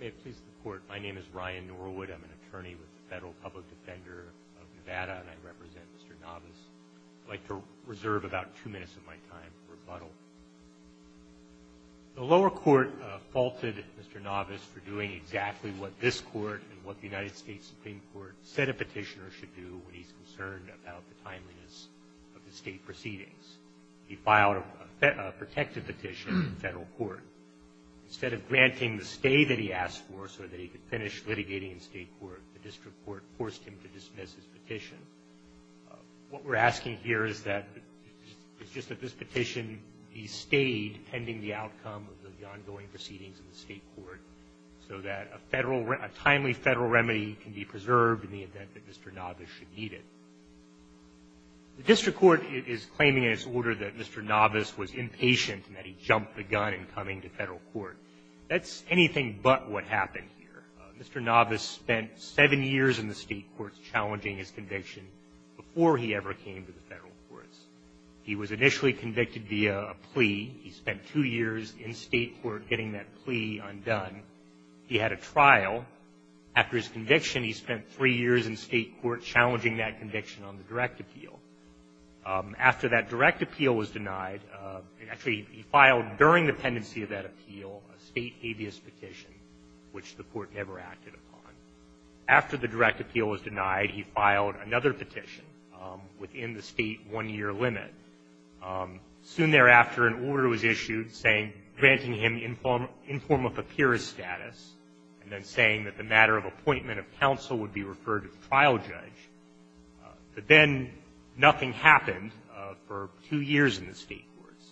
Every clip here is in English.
May it please the Court, my name is Ryan Norwood. I'm an attorney with the Federal Public Defender of Nevada, and I represent Mr. Navas. I'd like to reserve about two minutes of my time for rebuttal. The lower court faulted Mr. Navas for doing exactly what this Court and what the United States Supreme Court said a petitioner should do when he's concerned about the timeliness of the state proceedings. He filed a protected petition in federal court. Instead of granting the stay that he asked for so that he could finish litigating in state court, the district court forced him to dismiss his petition. What we're asking here is that it's just that this petition, he stayed pending the outcome of the ongoing proceedings in the state court so that a timely federal remedy can be preserved in the event that Mr. Navas should need it. The district court is claiming in its order that Mr. Navas was impatient and that he jumped the gun in coming to federal court. That's anything but what happened here. Mr. Navas spent seven years in the state courts challenging his conviction before he ever came to the federal courts. He was initially convicted via a plea. He spent two years in state court getting that plea undone. He had a trial. After his conviction, he spent three years in state court challenging that conviction on the direct appeal. After that direct appeal was denied, actually, he filed during the pendency of that appeal, a state habeas petition, which the Court never acted upon. After the direct appeal was denied, he filed another petition within the state one-year limit. Soon thereafter, an order was issued granting him informal papyrus status and then saying that the matter of appointment of counsel would be referred to the trial judge. But then nothing happened for two years in the state courts.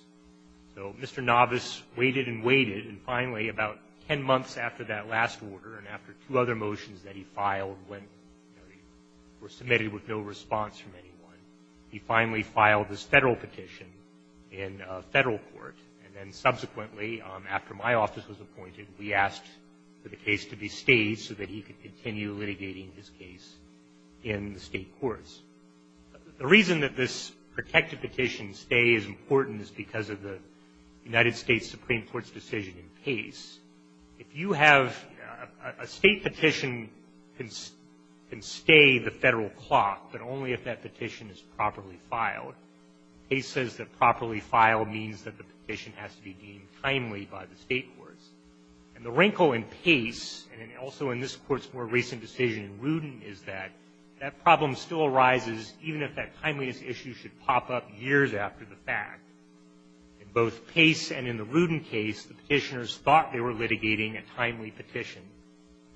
So Mr. Navas waited and waited, and finally, about ten months after that last order and after two other motions that he filed were submitted with no response from anyone, he finally filed this Federal petition in a Federal court. And then subsequently, after my office was appointed, we asked for the case to be stayed so that he could continue litigating his case in the state courts. The reason that this protected petition stay is important is because of the United States Supreme Court's decision in pace. If you have a state petition, it can stay the Federal clock, but only if that petition is properly filed. Pace says that properly filed means that the petition has to be deemed timely by the state courts. And the wrinkle in pace, and also in this Court's more recent decision in Rudin, is that that problem still arises even if that timeliness issue should pop up years after the fact. In both Pace and in the Rudin case, the Petitioners thought they were litigating a timely petition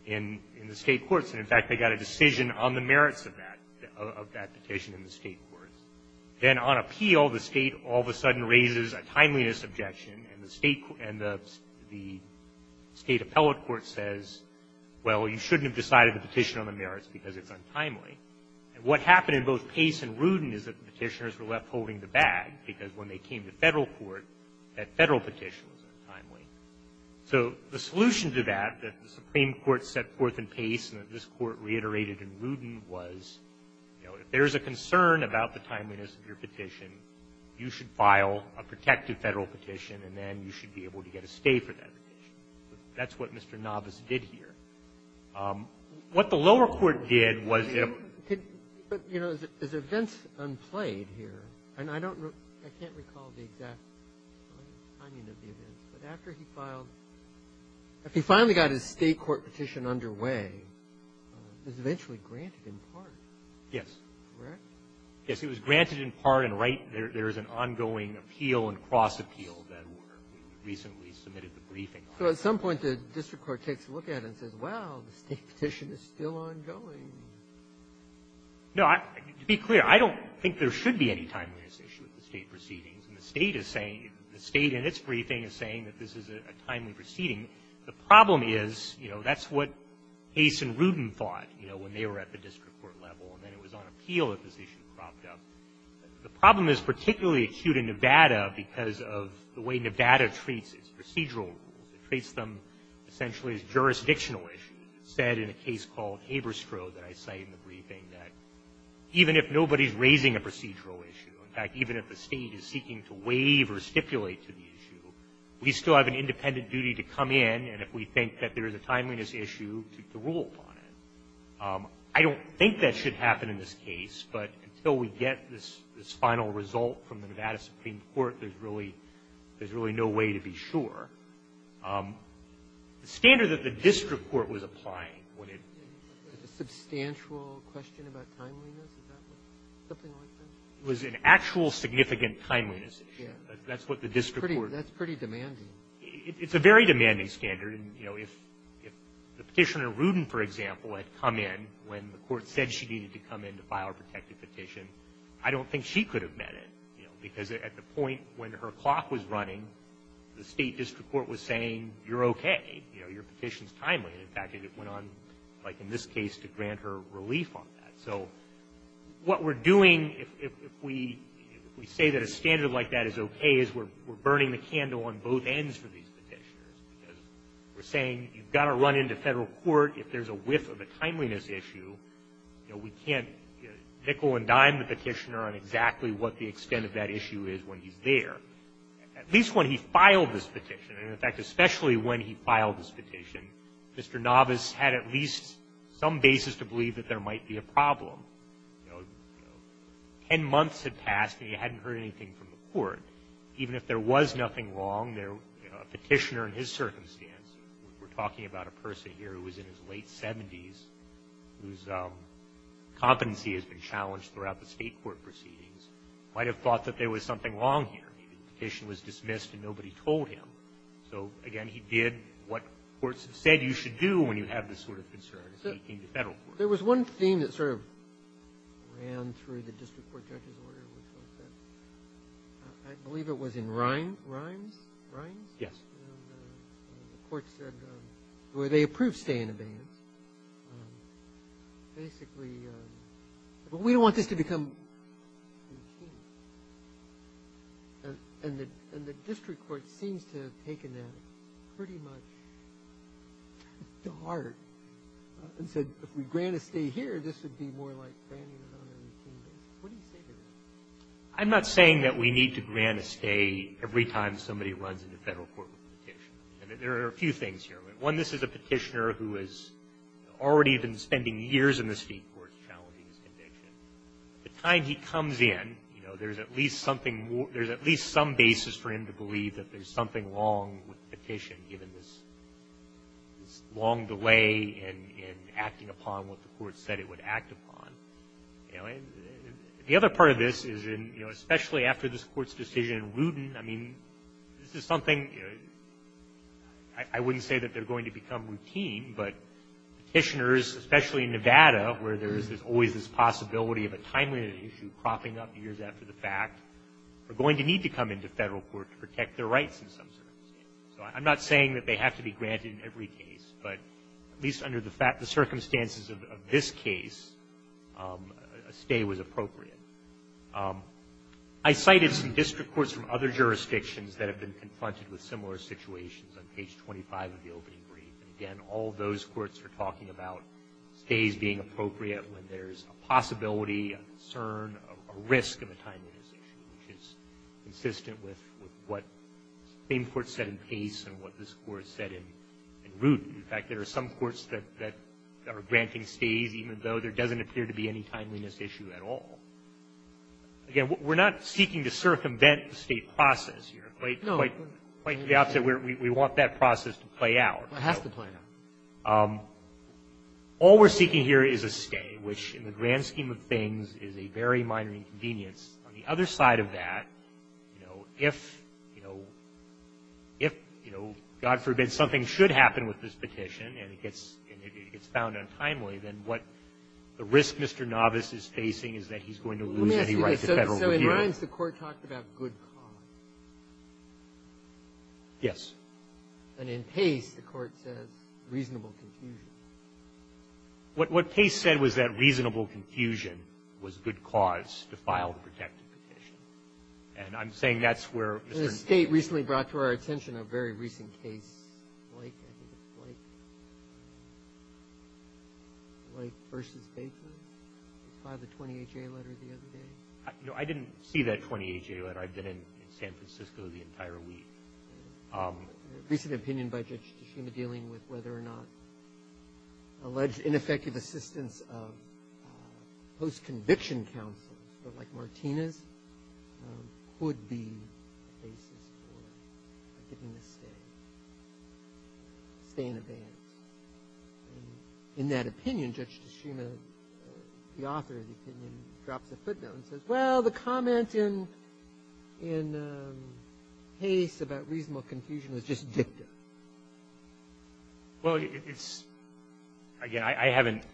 in the state courts, and in fact, they got a decision on the merits of that, of that petition in the state courts. Then on appeal, the State all of a sudden raises a timeliness objection, and the State appellate court says, well, you shouldn't have decided the petition on the merits because it's untimely. And what happened in both Pace and Rudin is that the Petitioners were left holding the bag, because when they came to Federal court, that Federal petition was untimely. So the solution to that that the Supreme Court set forth in Pace and that this Court reiterated in Rudin was, you know, if there is a concern about the timeliness of your petition, you should file a protected Federal petition, and then you should be able to get a stay for that petition. That's what Mr. Navas did here. What the lower court did was if you know, is events unplayed here, and I don't know, I can't recall the exact timing of the events, but after he filed, if he finally got his State court petition underway, it was eventually granted in part. Yes. Correct? Yes. It was granted in part, and right there is an ongoing appeal and cross-appeal that were recently submitted to briefing. So at some point, the district court takes a look at it and says, wow, the State petition is still ongoing. No. To be clear, I don't think there should be any timeliness issue at the State proceedings, and the State is saying, the State in its briefing is saying that this is a timely proceeding. The problem is, you know, that's what Pace and Rudin thought, you know, when they were at the district court level, and then it was on appeal that this issue cropped up. The problem is particularly acute in Nevada because of the way Nevada treats its procedural rules. It treats them essentially as jurisdictional issues. It said in a case called Haberstroh that I cite in the briefing that even if nobody is raising a procedural issue, in fact, even if the State is seeking to waive or stipulate to the issue, we still have an independent duty to come in, and if we think that there is a timeliness issue, to rule upon it. I don't think that should happen in this case, but until we get this final result from the Nevada Supreme Court, there's really no way to be sure. The standard that the district court was applying when it was a substantial question about timeliness, is that something like that? It was an actual significant timeliness issue. Yes. That's what the district court was. That's pretty demanding. It's a very demanding standard. And, you know, if the Petitioner Rudin, for example, had come in when the court said she needed to come in to file a protective petition, I don't think she could have met it, you know, because at the point when her clock was running, the State district court was saying, you're okay, you know, your petition is timely. In fact, it went on, like in this case, to grant her relief on that. So what we're doing, if we say that a standard like that is okay, is we're issue, you know, we can't nickel and dime the Petitioner on exactly what the extent of that issue is when he's there. At least when he filed this petition. And, in fact, especially when he filed this petition, Mr. Navas had at least some basis to believe that there might be a problem. You know, ten months had passed, and he hadn't heard anything from the court. Even if there was nothing wrong, there were, you know, a Petitioner in his circumstance, we're talking about a person here who was in his late 70s, whose competency has been challenged throughout the State court proceedings, might have thought that there was something wrong here. The petition was dismissed and nobody told him. So, again, he did what courts have said you should do when you have this sort of concern. There was one thing that sort of ran through the district court judge's order, which was that I believe it was in Rimes? Rimes? Yes. And the court said, well, they approved stay in abeyance. Basically, but we don't want this to become a machine. And the district court seems to have taken that pretty much to heart and said, if we grant a stay here, this would be more like granting it on a routine basis. What do you say to that? I'm not saying that we need to grant a stay every time somebody runs into Federal court with a petition. There are a few things here. One, this is a Petitioner who has already been spending years in the State court challenging his conviction. By the time he comes in, you know, there's at least something more – there's at least some basis for him to believe that there's something wrong with the petition, given this long delay in acting upon what the court said it would act upon. You know, and the other part of this is, you know, especially after this Court's decision in Wooten, I mean, this is something, you know, I wouldn't say that they're going to become routine, but Petitioners, especially in Nevada, where there's always this possibility of a timely issue cropping up years after the fact, are going to need to come into Federal court to protect their rights in some circumstances. So I'm not saying that they have to be granted in every case, but at least under the circumstances of this case, a stay was appropriate. I cited some district courts from other jurisdictions that have been confronted with similar situations on page 25 of the opening brief. And again, all those courts are talking about stays being appropriate when there's a possibility, a concern, a risk of a timeliness issue, which is consistent with what the same court said in Pace and what this Court said in Wooten. In fact, there are some courts that are granting stays even though there doesn't appear to be any timeliness issue at all. Again, we're not seeking to circumvent the stay process here. No. Quite to the opposite. We want that process to play out. It has to play out. All we're seeking here is a stay, which, in the grand scheme of things, is a very minor inconvenience. On the other side of that, you know, if, you know, if, you know, God forbid, something should happen with this petition and it gets found untimely, then what the risk Mr. Novice is facing is that he's going to lose any right to Federal review. Let me ask you this. So in Rines, the Court talked about good cause. Yes. And in Pace, the Court says reasonable confusion. What Pace said was that reasonable confusion was good cause to file the protected petition. And I'm saying that's where Mr. Novice ---- The State recently brought to our attention a very recent case, Blake, I think it's Blake, Blake v. Bateman, filed a 28-J letter the other day. No, I didn't see that 28-J letter. I've been in San Francisco the entire week. A recent opinion by Judge Tshishima dealing with whether or not alleged ineffective assistance of post-conviction counsels, like Martinez, could be a basis for getting a stay, stay in advance. And in that opinion, Judge Tshishima, the author of the opinion, drops a footnote and says, well, the comment in Pace about reasonable confusion is just dicta. Well, it's ---- again, I haven't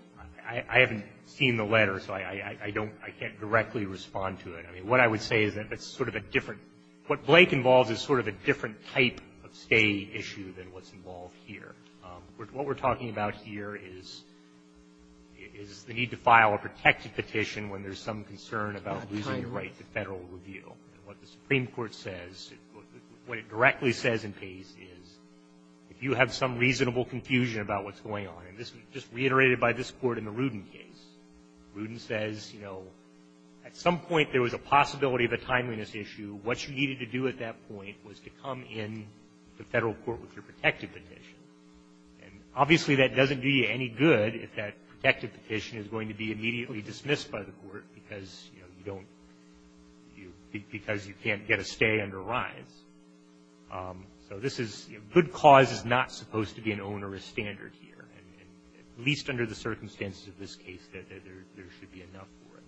---- I haven't seen the letter, so I don't ---- I can't directly respond to it. I mean, what I would say is that it's sort of a different ---- what Blake involves is sort of a different type of stay issue than what's involved here. What we're talking about here is the need to file a protected petition when there's some concern about losing the right to Federal review. And what the Supreme Court says, what it directly says in Pace is, if you have some reasonable confusion about what's going on, and this was just reiterated by this Court in the Rudin case, Rudin says, you know, at some point there was a possibility of a timeliness issue. What you needed to do at that point was to come in the Federal court with your protected petition. And obviously, that doesn't do you any good if that protected petition is going to be immediately dismissed by the court because, you know, you don't ---- because you can't get a stay under rise. So this is ---- good cause is not supposed to be an onerous standard here, at least under the circumstances of this case that there should be enough for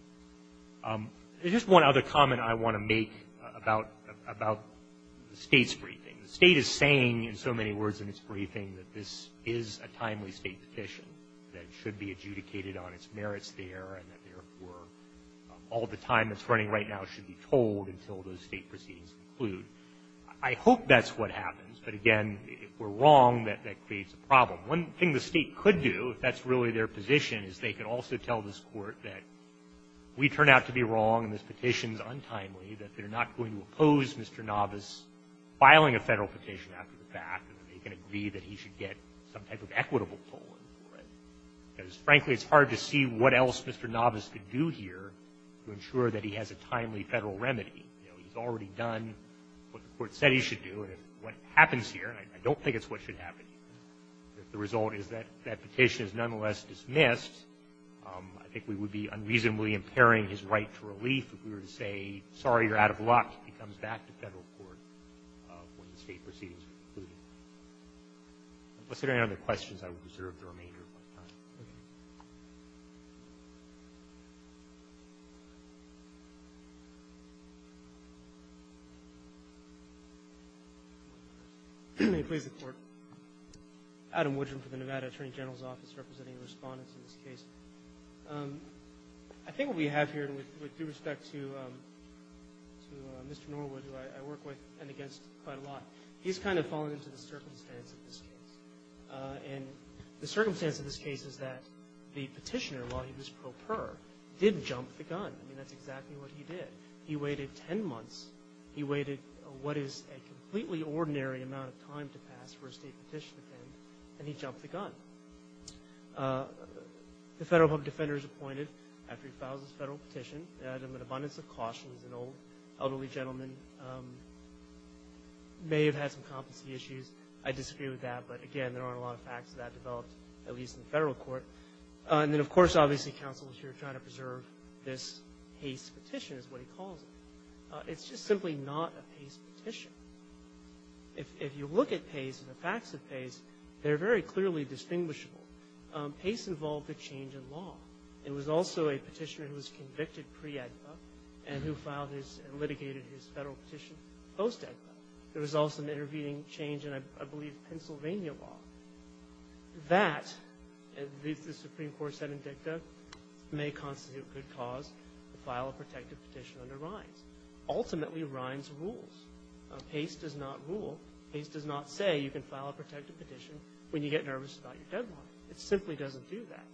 it. There's just one other comment I want to make about the State's briefing. The State is saying, in so many words in its briefing, that this is a timely State petition, that it should be adjudicated on its merits there, and that, therefore, all the time that's running right now should be told until those State proceedings conclude. I hope that's what happens. But, again, if we're wrong, that creates a problem. One thing the State could do, if that's really their position, is they could also tell this Court that we turn out to be wrong and this petition is untimely, that they're not going to oppose Mr. Navas filing a Federal petition after the fact, and that they can agree that he should get some type of equitable toll, right? Because, frankly, it's hard to see what else Mr. Navas could do here to ensure that he has a timely Federal remedy. You know, he's already done what the Court said he should do, and if what happens here, and I don't think it's what should happen, if the result is that that petition is nonetheless dismissed, I think we would be unreasonably impairing his right to relief if we were to say, sorry, you're out of luck. He comes back to Federal court when the State proceedings are concluded. Unless there are any other questions, I will reserve the remainder of my time. Adam Woodrum for the Nevada Attorney General's Office, representing the Respondents in this case. I think what we have here, with due respect to Mr. Norwood, who I work with and against quite a lot, he's kind of fallen into the circumstance of this case. And the circumstance of this case is that the petitioner, while he was pro per, did jump the gun. I mean, that's exactly what he did. He waited 10 months. He waited what is a completely ordinary amount of time to pass for a State petition to end, and he jumped the gun. The Federal Public Defender is appointed after he files his Federal petition. He had an abundance of caution. He's an old, elderly gentleman, may have had some competency issues. I disagree with that, but again, there aren't a lot of facts to that developed, at least in the Federal court. And then, of course, obviously, counsel is here trying to preserve this Pace petition, is what he calls it. It's just simply not a Pace petition. If you look at Pace and the facts of Pace, they're very clearly distinguishable. Pace involved a change in law. It was also a petitioner who was convicted pre-AEDPA and who filed his and litigated his Federal petition post-AEDPA. There was also an intervening change in, I believe, Pennsylvania law. That, as the Supreme Court said in Dicta, may constitute a good cause to file a protective petition under Rines. Ultimately, Rines rules. Pace does not rule. Pace does not say you can file a protective petition when you get nervous about your deadline. It simply doesn't do that.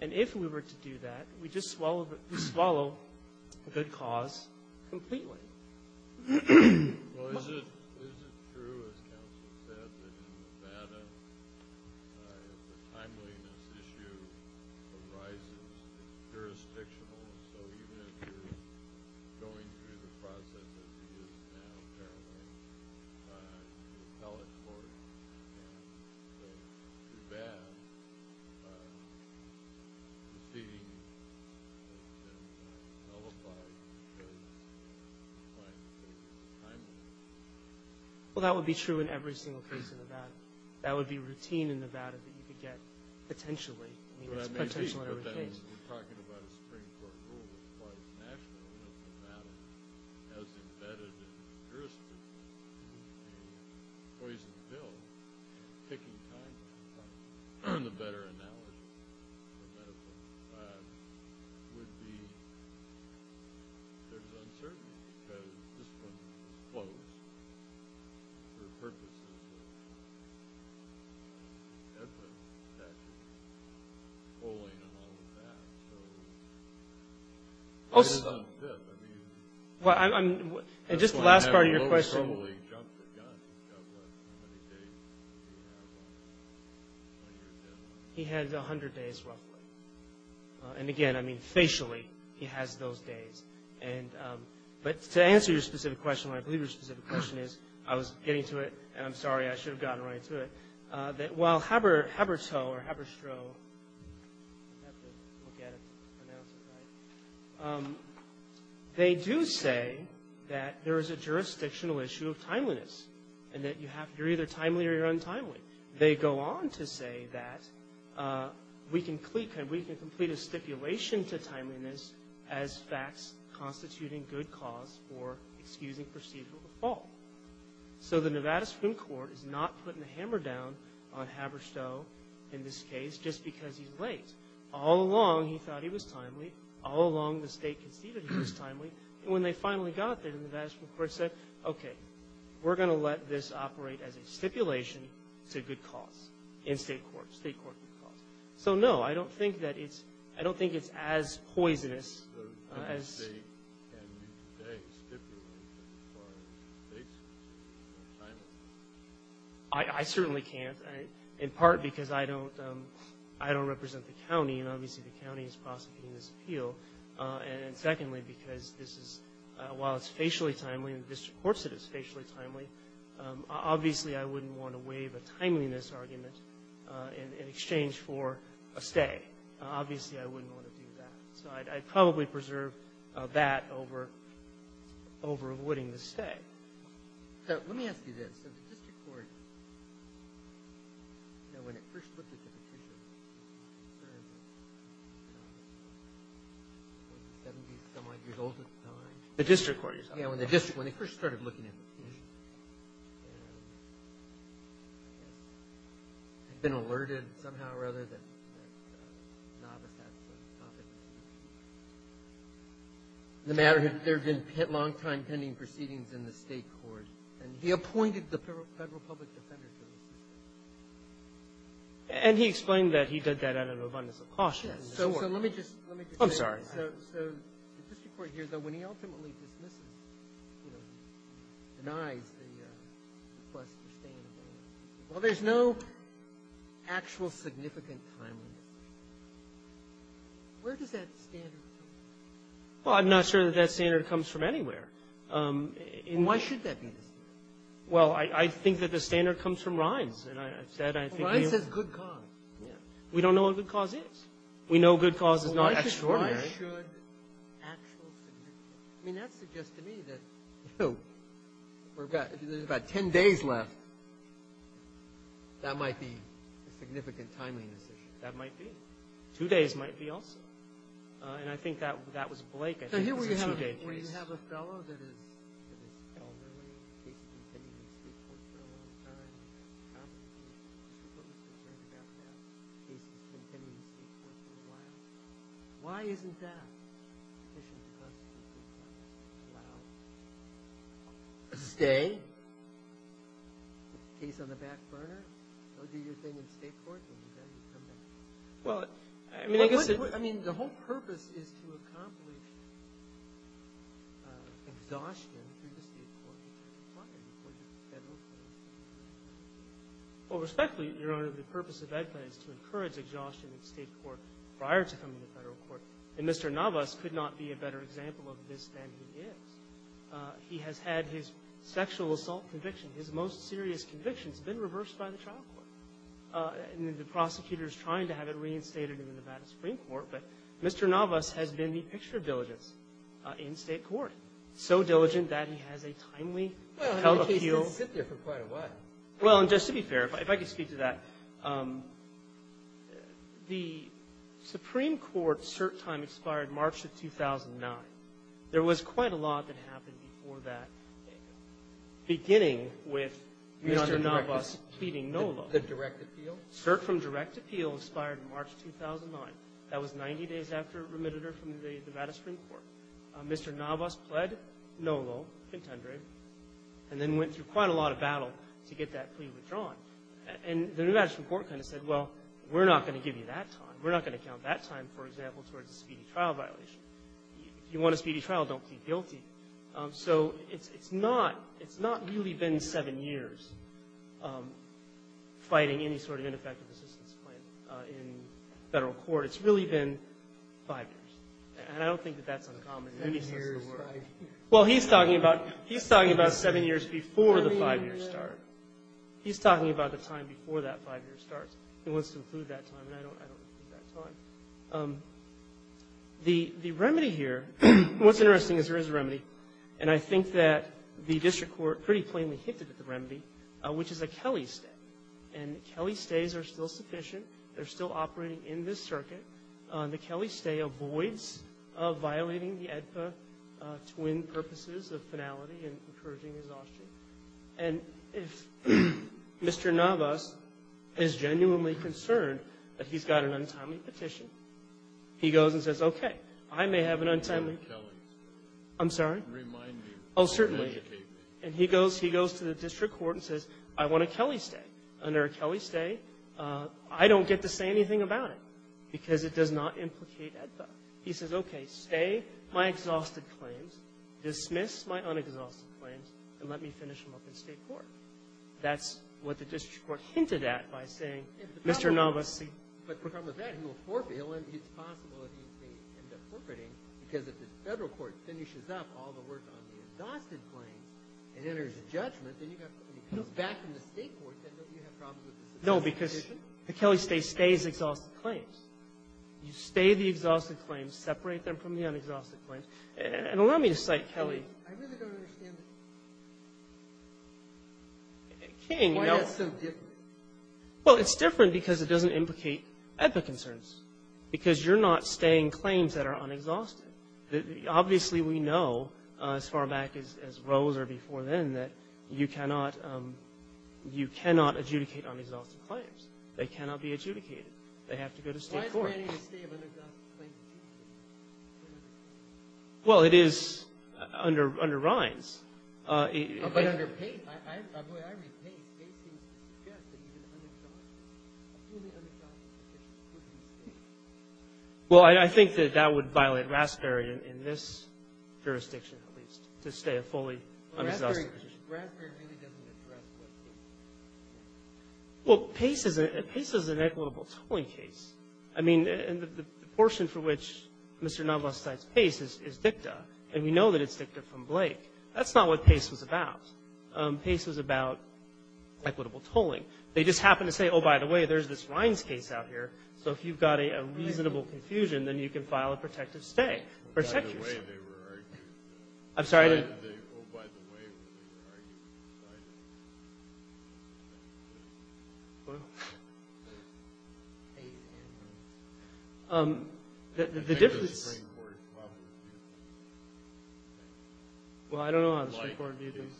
And if we were to do that, we'd just swallow the good cause completely. Well, is it true, as counsel said, that in Nevada, the timeliness issue of Rice is jurisdictional? So even if you're going through the process as he is now, apparently, you can tell it forth. Well, that would be true in every single case in Nevada. That would be routine in Nevada that you could get potentially. I mean, it's potential in every case. We're talking about a Supreme Court rule. As far as national, it doesn't matter. As embedded in the jurisdiction, a poison pill, taking time from time, the better analogy for that would be there's uncertainty because this one is closed for purposes of AEDPA. That's just polling and all of that. So it depends on the fit. I mean, that's why I have a little slowly jumped the gun. He had 100 days, roughly. And again, I mean, facially, he has those days. But to answer your specific question, I believe your specific question is, I was getting to it, and I'm sorry, I should have gotten right to it. While Habertow or Haberstroh, they do say that there is a jurisdictional issue of timeliness and that you're either timely or you're untimely. They go on to say that we can complete a stipulation to timeliness as facts constituting good cause for excusing procedural default. So the Nevada Supreme Court is not putting a hammer down on Haberstow in this case just because he's late. All along, he thought he was timely. All along, the state conceded he was timely. And when they finally got there, the Nevada Supreme Court said, okay, we're going to let this operate as a stipulation to good cause in state court, state court good cause. So no, I don't think that it's, I don't think it's as poisonous. I certainly can't. In part because I don't represent the county, and obviously the county is prosecuting this appeal. And secondly, because this is, while it's facially timely, and the district courts said it's facially timely, obviously I wouldn't want to waive a timeliness argument in exchange for a stay. Obviously, I wouldn't want to do that. So I'd probably preserve that over avoiding the stay. Okay. So let me ask you this. So the district court, when it first looked at the petition, was it 70-some-odd years old at the time? The district court? Yeah, when the district, when they first started looking at the petition, had been alerted somehow or other that the novice had some topic. The matter had, there had been long-time pending proceedings in the state court, and he appointed the federal public defender to assist. And he explained that he did that out of abundance of caution. So let me just, let me just say this. I'm sorry. So the district court hears that when he ultimately dismisses, you know, denies the request for staying, well, there's no actual significant timeliness. Where does that standard come from? Well, I'm not sure that that standard comes from anywhere. Why should that be the standard? Well, I think that the standard comes from RINES. And I've said, I think... RINES says good cause. Yeah. We don't know what good cause is. We know good cause is not extraordinary. Well, why should actual significance? I mean, that suggests to me that, you know, we've got, there's about 10 days left. That might be a significant timeliness issue. That might be. Two days might be also. And I think that was Blake. I think it was a two-day case. So here we have a fellow that is elderly. The case has been pending in state court for a long time. The prosecutor is concerned about that. The case has been pending in state court for a while. Why isn't that? The petitioner is concerned about that for a while. Stay? Case on the back burner? Well, do your thing in state court and then come back here. Well, I mean, I guess... I mean, the whole purpose is to accomplish exhaustion through the state court which I can talk to you about. The federal court... Well, respectfully, Your Honor, the purpose of EDPA is to encourage exhaustion in state court prior to coming to federal court. And Mr. Navas could not be a better example of this than he is. He has had his sexual assault conviction, his most serious conviction, has been reversed by the trial court. And the prosecutor is trying to have it reinstated in the Nevada Supreme Court. But Mr. Navas has been the picture diligence in state court, so diligent that he has a timely held appeal. Well, the case has been sitting there for quite a while. Well, and just to be fair, if I could speak to that, the Supreme Court cert time expired March of 2009. There was quite a lot that happened before that, beginning with Mr. Navas pleading no law. The direct appeal? Cert from direct appeal expired March 2009. That was 90 days after remitted her from the Nevada Supreme Court. Mr. Navas pled no law, contendered, and then went through quite a lot of battle to get that plea withdrawn. And the Nevada Supreme Court kind of said, well, we're not going to give you that time. We're not going to count that time, for example, towards a speedy trial violation. If you want a speedy trial, don't plead guilty. So it's not really been seven years fighting any sort of ineffective assistance claim in federal court. It's really been five years. And I don't think that that's uncommon in any sense of the word. Well, he's talking about seven years before the five-year start. He's talking about the time before that five-year start. He wants to include that time, and I don't include that time. The remedy here, what's interesting is there is a remedy. And I think that the district court pretty plainly hinted at the remedy, which is a Kelley stay. And Kelley stays are still sufficient. They're still operating in this circuit. The Kelley stay avoids violating the AEDPA twin purposes of finality and encouraging exhaustion. And if Mr. Navas is genuinely concerned that he's got an untimely petition, he goes and says, okay, I may have an untimely. I'm sorry? Remind me. Oh, certainly. Educate me. And he goes to the district court and says, I want a Kelley stay. Under a Kelley stay, I don't get to say anything about it because it does not implicate AEDPA. He says, okay, stay my exhausted claims, dismiss my unexhausted claims, and let me finish them up in State court. That's what the district court hinted at by saying, Mr. Navas, see. But the problem with that, he will forfeit. It's possible that he may end up forfeiting because if the Federal court finishes up all the work on the exhausted claims and enters a judgment, then you've got to come back to the State court. Then you have problems with the sufficient petition. No, because the Kelley stay stays exhausted claims. You stay the exhausted claims, separate them from the unexhausted claims. And allow me to cite Kelley. I really don't understand it. King, no. Why is it so different? Well, it's different because it doesn't implicate AEDPA concerns. Because you're not staying claims that are unexhausted. Obviously, we know, as far back as Rose or before then, that you cannot, you cannot adjudicate unexhausted claims. They cannot be adjudicated. They have to go to State court. Why is granting a stay of unexhausted claims adjudicated? Well, it is under Rhines. But under Pace. I read Pace. Pace seems to suggest that he's an unexhausted claim. A fully unexhausted claim. Well, I think that that would violate Raspberry in this jurisdiction, at least, to stay a fully unexhausted claim. Raspberry really doesn't address what Pace is saying. Well, Pace is an equitable tolling case. I mean, and the portion for which Mr. Novoseltz cites Pace is dicta. And we know that it's dicta from Blake. That's not what Pace was about. Pace was about equitable tolling. They just happen to say, oh, by the way, there's this Rhines case out here. So if you've got a reasonable confusion, then you can file a protective stay. Protect yourself. Oh, by the way, they were arguing. I'm sorry? Oh, by the way, they were arguing. Sorry. Well. The difference I think the Supreme Court probably would do that. Well, I don't know how the Supreme Court would do things.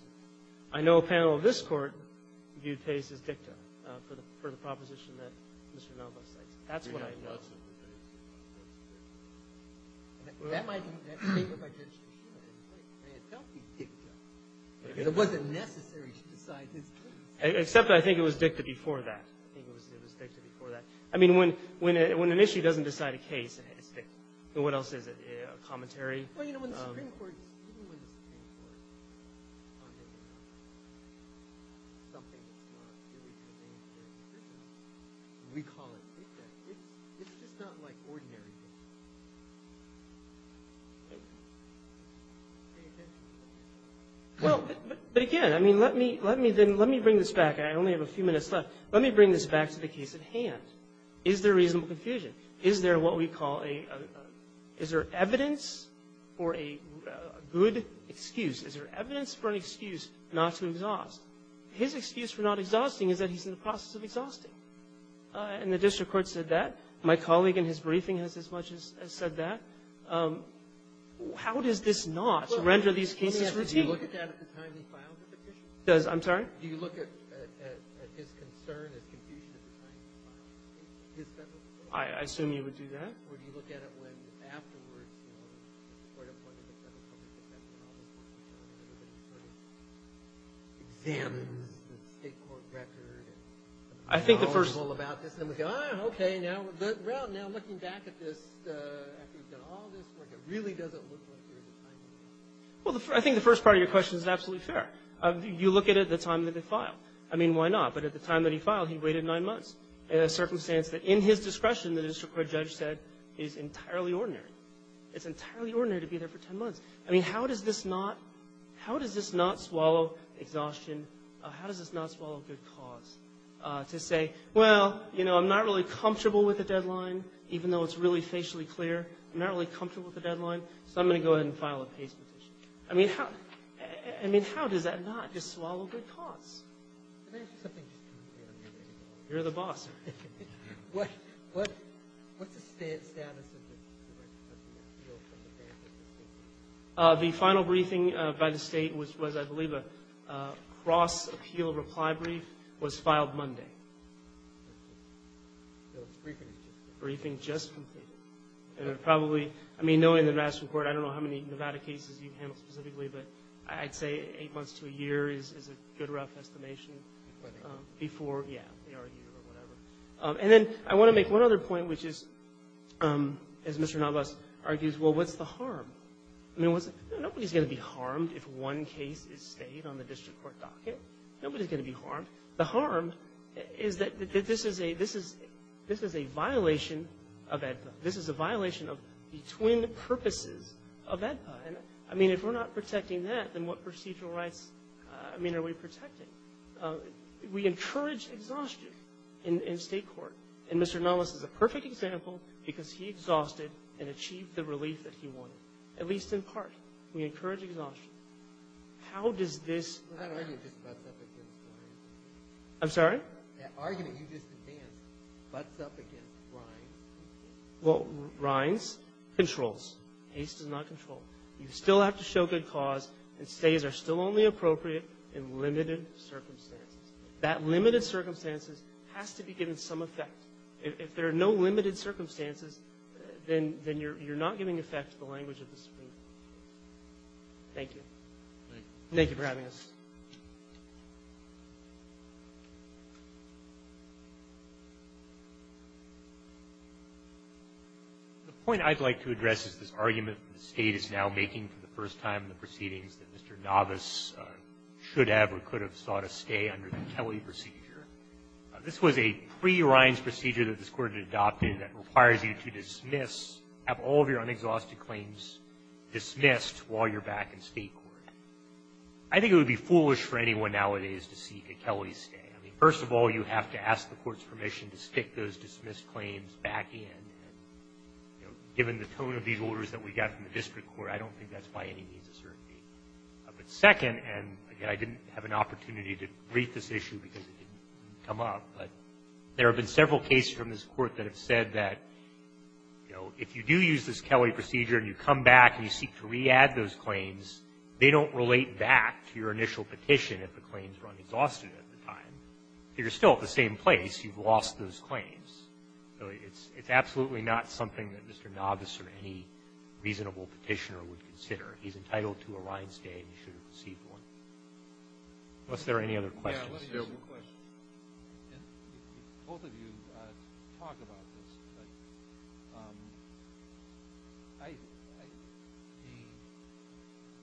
I know a panel of this Court viewed Pace as dicta for the proposition that Mr. Novoseltz cites. That's what I know. We have lots of dicta cases. That might be the case. I mean, it can't be dicta. Because it wasn't necessary to decide his case. Except I think it was dicta before that. I think it was dicta before that. I mean, when an issue doesn't decide a case, it's dicta. What else is it? A commentary? Well, you know, when the Supreme Court Even when the Supreme Court on something that's not really contained in their inscriptions We call it dicta. It's just not like ordinary dicta. Well, but again, I mean, let me bring this back. I only have a few minutes left. Let me bring this back to the case at hand. Is there reasonable confusion? Is there what we call a Is there evidence for a good excuse? Is there evidence for an excuse not to exhaust? His excuse for not exhausting is that he's in the process of exhausting. And the district court said that. My colleague in his briefing has as much as said that. How does this not render these cases routine? I'm sorry? I assume you would do that. Examines the state court record I think the first And we go, ah, okay, now Well, now looking back at this After you've done all this work, it really doesn't look like there's a time to do that. Well, I think the first part of your question is absolutely fair. You look at it at the time that they file. I mean, why not? But at the time that he filed, he waited nine months. In a circumstance that in his discretion, the district court judge said is entirely ordinary. It's entirely ordinary to be there for ten months. I mean, how does this not How does this not swallow exhaustion? How does this not swallow good cause? To say, well, you know, I'm not really comfortable with the deadline even though it's really facially clear I'm not really comfortable with the deadline so I'm going to go ahead and file a case petition. I mean, how does that not just swallow good cause? Can I ask you something? You're the boss. What's the status of the The final briefing by the state was, I believe, a cross-appeal reply brief was filed Monday. Briefing just completed. And it probably I mean, knowing the national court, I don't know how many Nevada cases you've handled specifically, but I'd say eight months to a year is a good rough estimation before, yeah, they argue or whatever. And then I want to make one other point, which is as Mr. Navas argues, well, what's the harm? Nobody's going to be harmed if one case is stayed on the district court docket. Nobody's going to be harmed. The harm is that this is a this is a violation of AEDPA. This is a violation of the twin purposes of AEDPA. I mean, if we're not protecting that, then what procedural rights I mean, are we protecting? We encourage exhaustion in state court. And Mr. Navas is a perfect example because he exhausted and achieved the relief that he wanted, at least in part. We encourage exhaustion. How does this I'm sorry? That argument you just advanced butts up against Rines. Well, Rines controls. Haste does not control. You still have to show good cause and stays are still only appropriate in limited circumstances. That limited circumstances has to be given some effect. If there are no limited circumstances, then you're not giving effect to the language of the Supreme Court. Thank you. Thank you for having us. The point I'd like to address is this argument the state is now making for the first time in the proceedings that Mr. Navas should have or could have sought a stay under the Kelly procedure. This was a pre-Rines procedure that this court had adopted that requires you to dismiss have all of your unexhausted claims dismissed while you're back in state court. I think it would be foolish for anyone nowadays to seek a Kelly stay. First of all, you have to ask the court's permission to stick those dismissed claims back in. Given the orders that we got from the district court, I don't think that's by any means a certainty. Second, and again, I didn't have an opportunity to brief this issue because it didn't come up, but there have been several cases from this court that have said that, you know, if you do use this Kelly procedure and you come back and you seek to re-add those claims, they don't relate back to your initial petition if the claims were unexhausted at the time. If you're still at the same place, you've lost those claims. It's absolutely not something that Mr. Novice or any reasonable petitioner would consider. He's entitled to a rind stay and he should have received one. Was there any other questions? Yeah, let me ask you a question. Both of you talk about this, but I the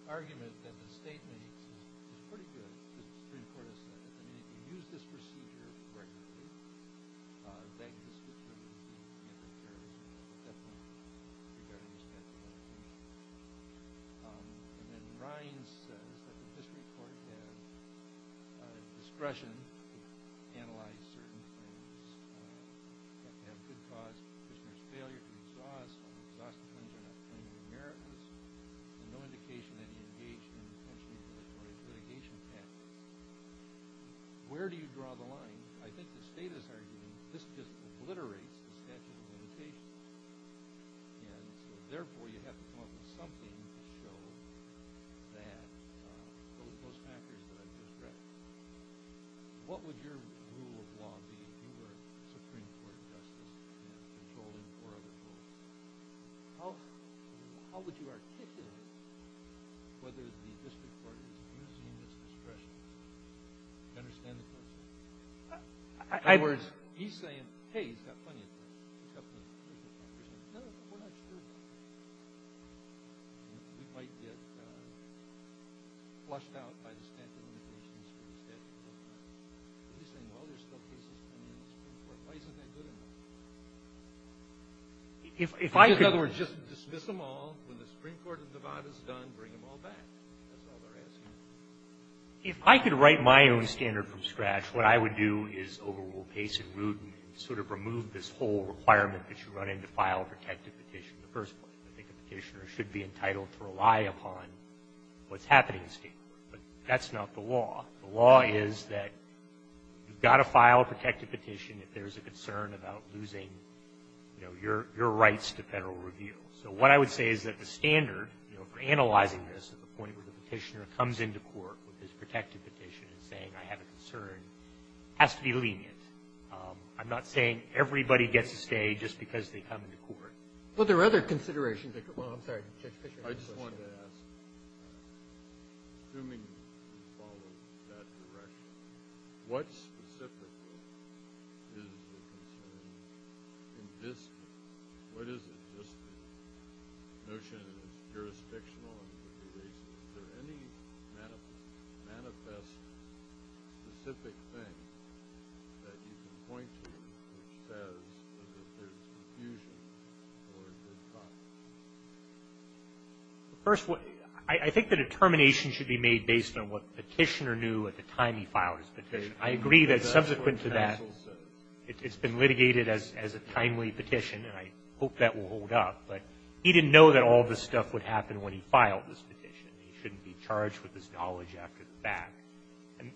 argument that the State makes is pretty good, as the Supreme Court has said. I mean, if you use this procedure regularly, then it's pretty good. And then Ryan says that the District Court has discretion to analyze certain things that have good cause for the petitioner's failure to exhaust or exhaustive claims on a claim to be meritless and no indication that he engaged in potentially regulatory litigation tactics. Where do you draw the line? I think the State is arguing that this obliterates the statute of limitations and therefore you have to come up with something to show that those factors that I've just read. What would your rule of law be if you were a Supreme Court Justice controlling four other courts? How would you articulate whether the District Court is using this discretion? Do you understand the question? In other words, he's saying, hey, he's got plenty of time. He's got plenty of time. No, we're not sure. We might get flushed out by the statute of limitations or the statute of limitations. He's saying, well, there's still cases pending in the Supreme Court. Why isn't that good enough? In other words, just dismiss them all. When the Supreme Court has done, bring them all back. That's all they're asking. If I could write my own standard from scratch, what I would do is overrule Pace and Rudin and sort of remove this whole requirement that you run into file a protective petition in the first place. I think a petitioner should be entitled to rely upon what's happening in state law. But that's not the law. The law is that you've got to file a protective petition if there's a concern about losing your rights to federal review. So what I would say is that the standard for analyzing this at the point where the petitioner comes into court with his protective petition and saying, I have a concern, has to be lenient. I'm not saying everybody gets to stay just because they come into court. Well, there are other considerations. Well, I'm sorry. Judge Fischer has a question. I just wanted to ask, assuming you follow that direction, what specifically is the concern in this case? What is it? Just the notion that it's jurisdictional and litigation. Is there any manifest specific thing that you can point to which says that there's confusion or a good cause? First, I think the determination should be made based on what the petitioner knew at the time he filed his petition. I agree that subsequent to that it's been litigated as a timely petition and I hope that will hold up, but he didn't know that all this stuff would happen when he filed his petition. He shouldn't be charged with his knowledge after the fact.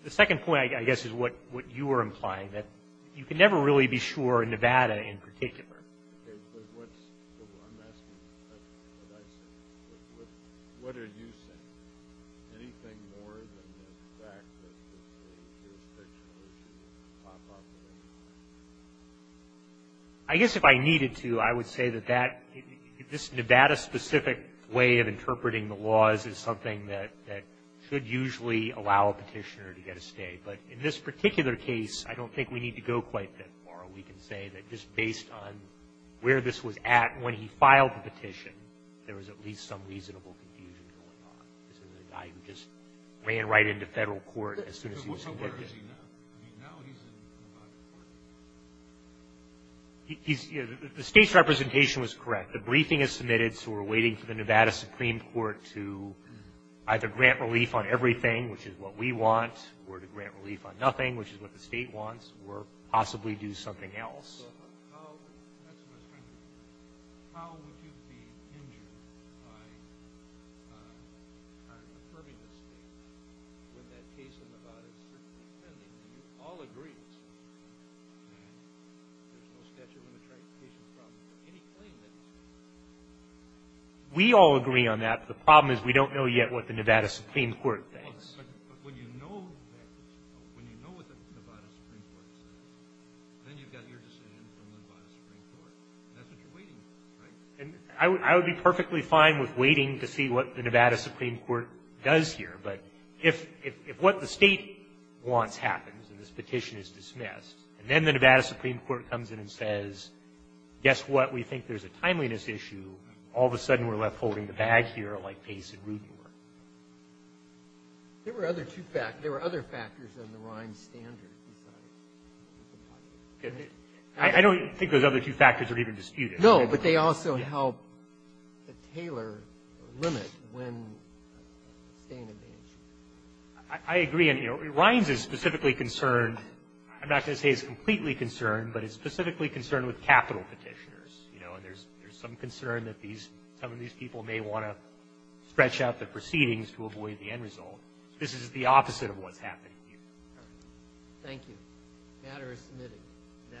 The second point, I guess, is what you were implying, that you can never really be sure in Nevada in particular. I'm asking what I said. What are you saying? Anything more than the fact that it's a jurisdictional issue that would pop up? I guess if I needed to, I would say that this Nevada specific way of interpreting the laws is something that should usually allow a petitioner to get a stay, but in this particular case, I don't think we need to go quite that far. We can say that just based on where this was at when he filed the petition, there was at least some reasonable confusion going on. This is a guy who just ran right into federal court as soon as What court is he in now? He's in Nevada Supreme Court. The state's representation was correct. The briefing is submitted, so we're waiting for the Nevada Supreme Court to either grant relief on everything, which is what we want, or to grant relief on nothing, which is what the state wants, or possibly do something else. That's what I'm trying to get at. How would you be injured by confirming this statement when that case in Nevada is certainly pending, and you all agree there's no statute of limitations for any claim that he's made? We all agree on that, but the problem is we don't know yet what the Nevada Supreme Court thinks. When you know what the Nevada Supreme Court says, then you've got your decision from the Nevada Supreme Court, and that's what you're waiting for, right? I would be perfectly fine with waiting to see what the Nevada Supreme Court does here, but if what the state wants happens, and this petition is dismissed, and then the Nevada Supreme Court comes in and says, guess what? We think there's a timeliness issue. All of a sudden, we're left holding the bag here like Pace and Rudenberg. There were other two factors. There were other factors on the Rhine standard. think those other two factors are even disputed. No, but they also help the Taylor limit when staying in the issue. I agree. Rhines is specifically concerned. I'm not going to say it's completely concerned, but it's specifically concerned with capital petitioners. There's some concern that some of these people may want to stretch out the proceedings to avoid the end result. This is the opposite of what's happening here. Thank you. Matter is submitted. That ends our session. Thank you.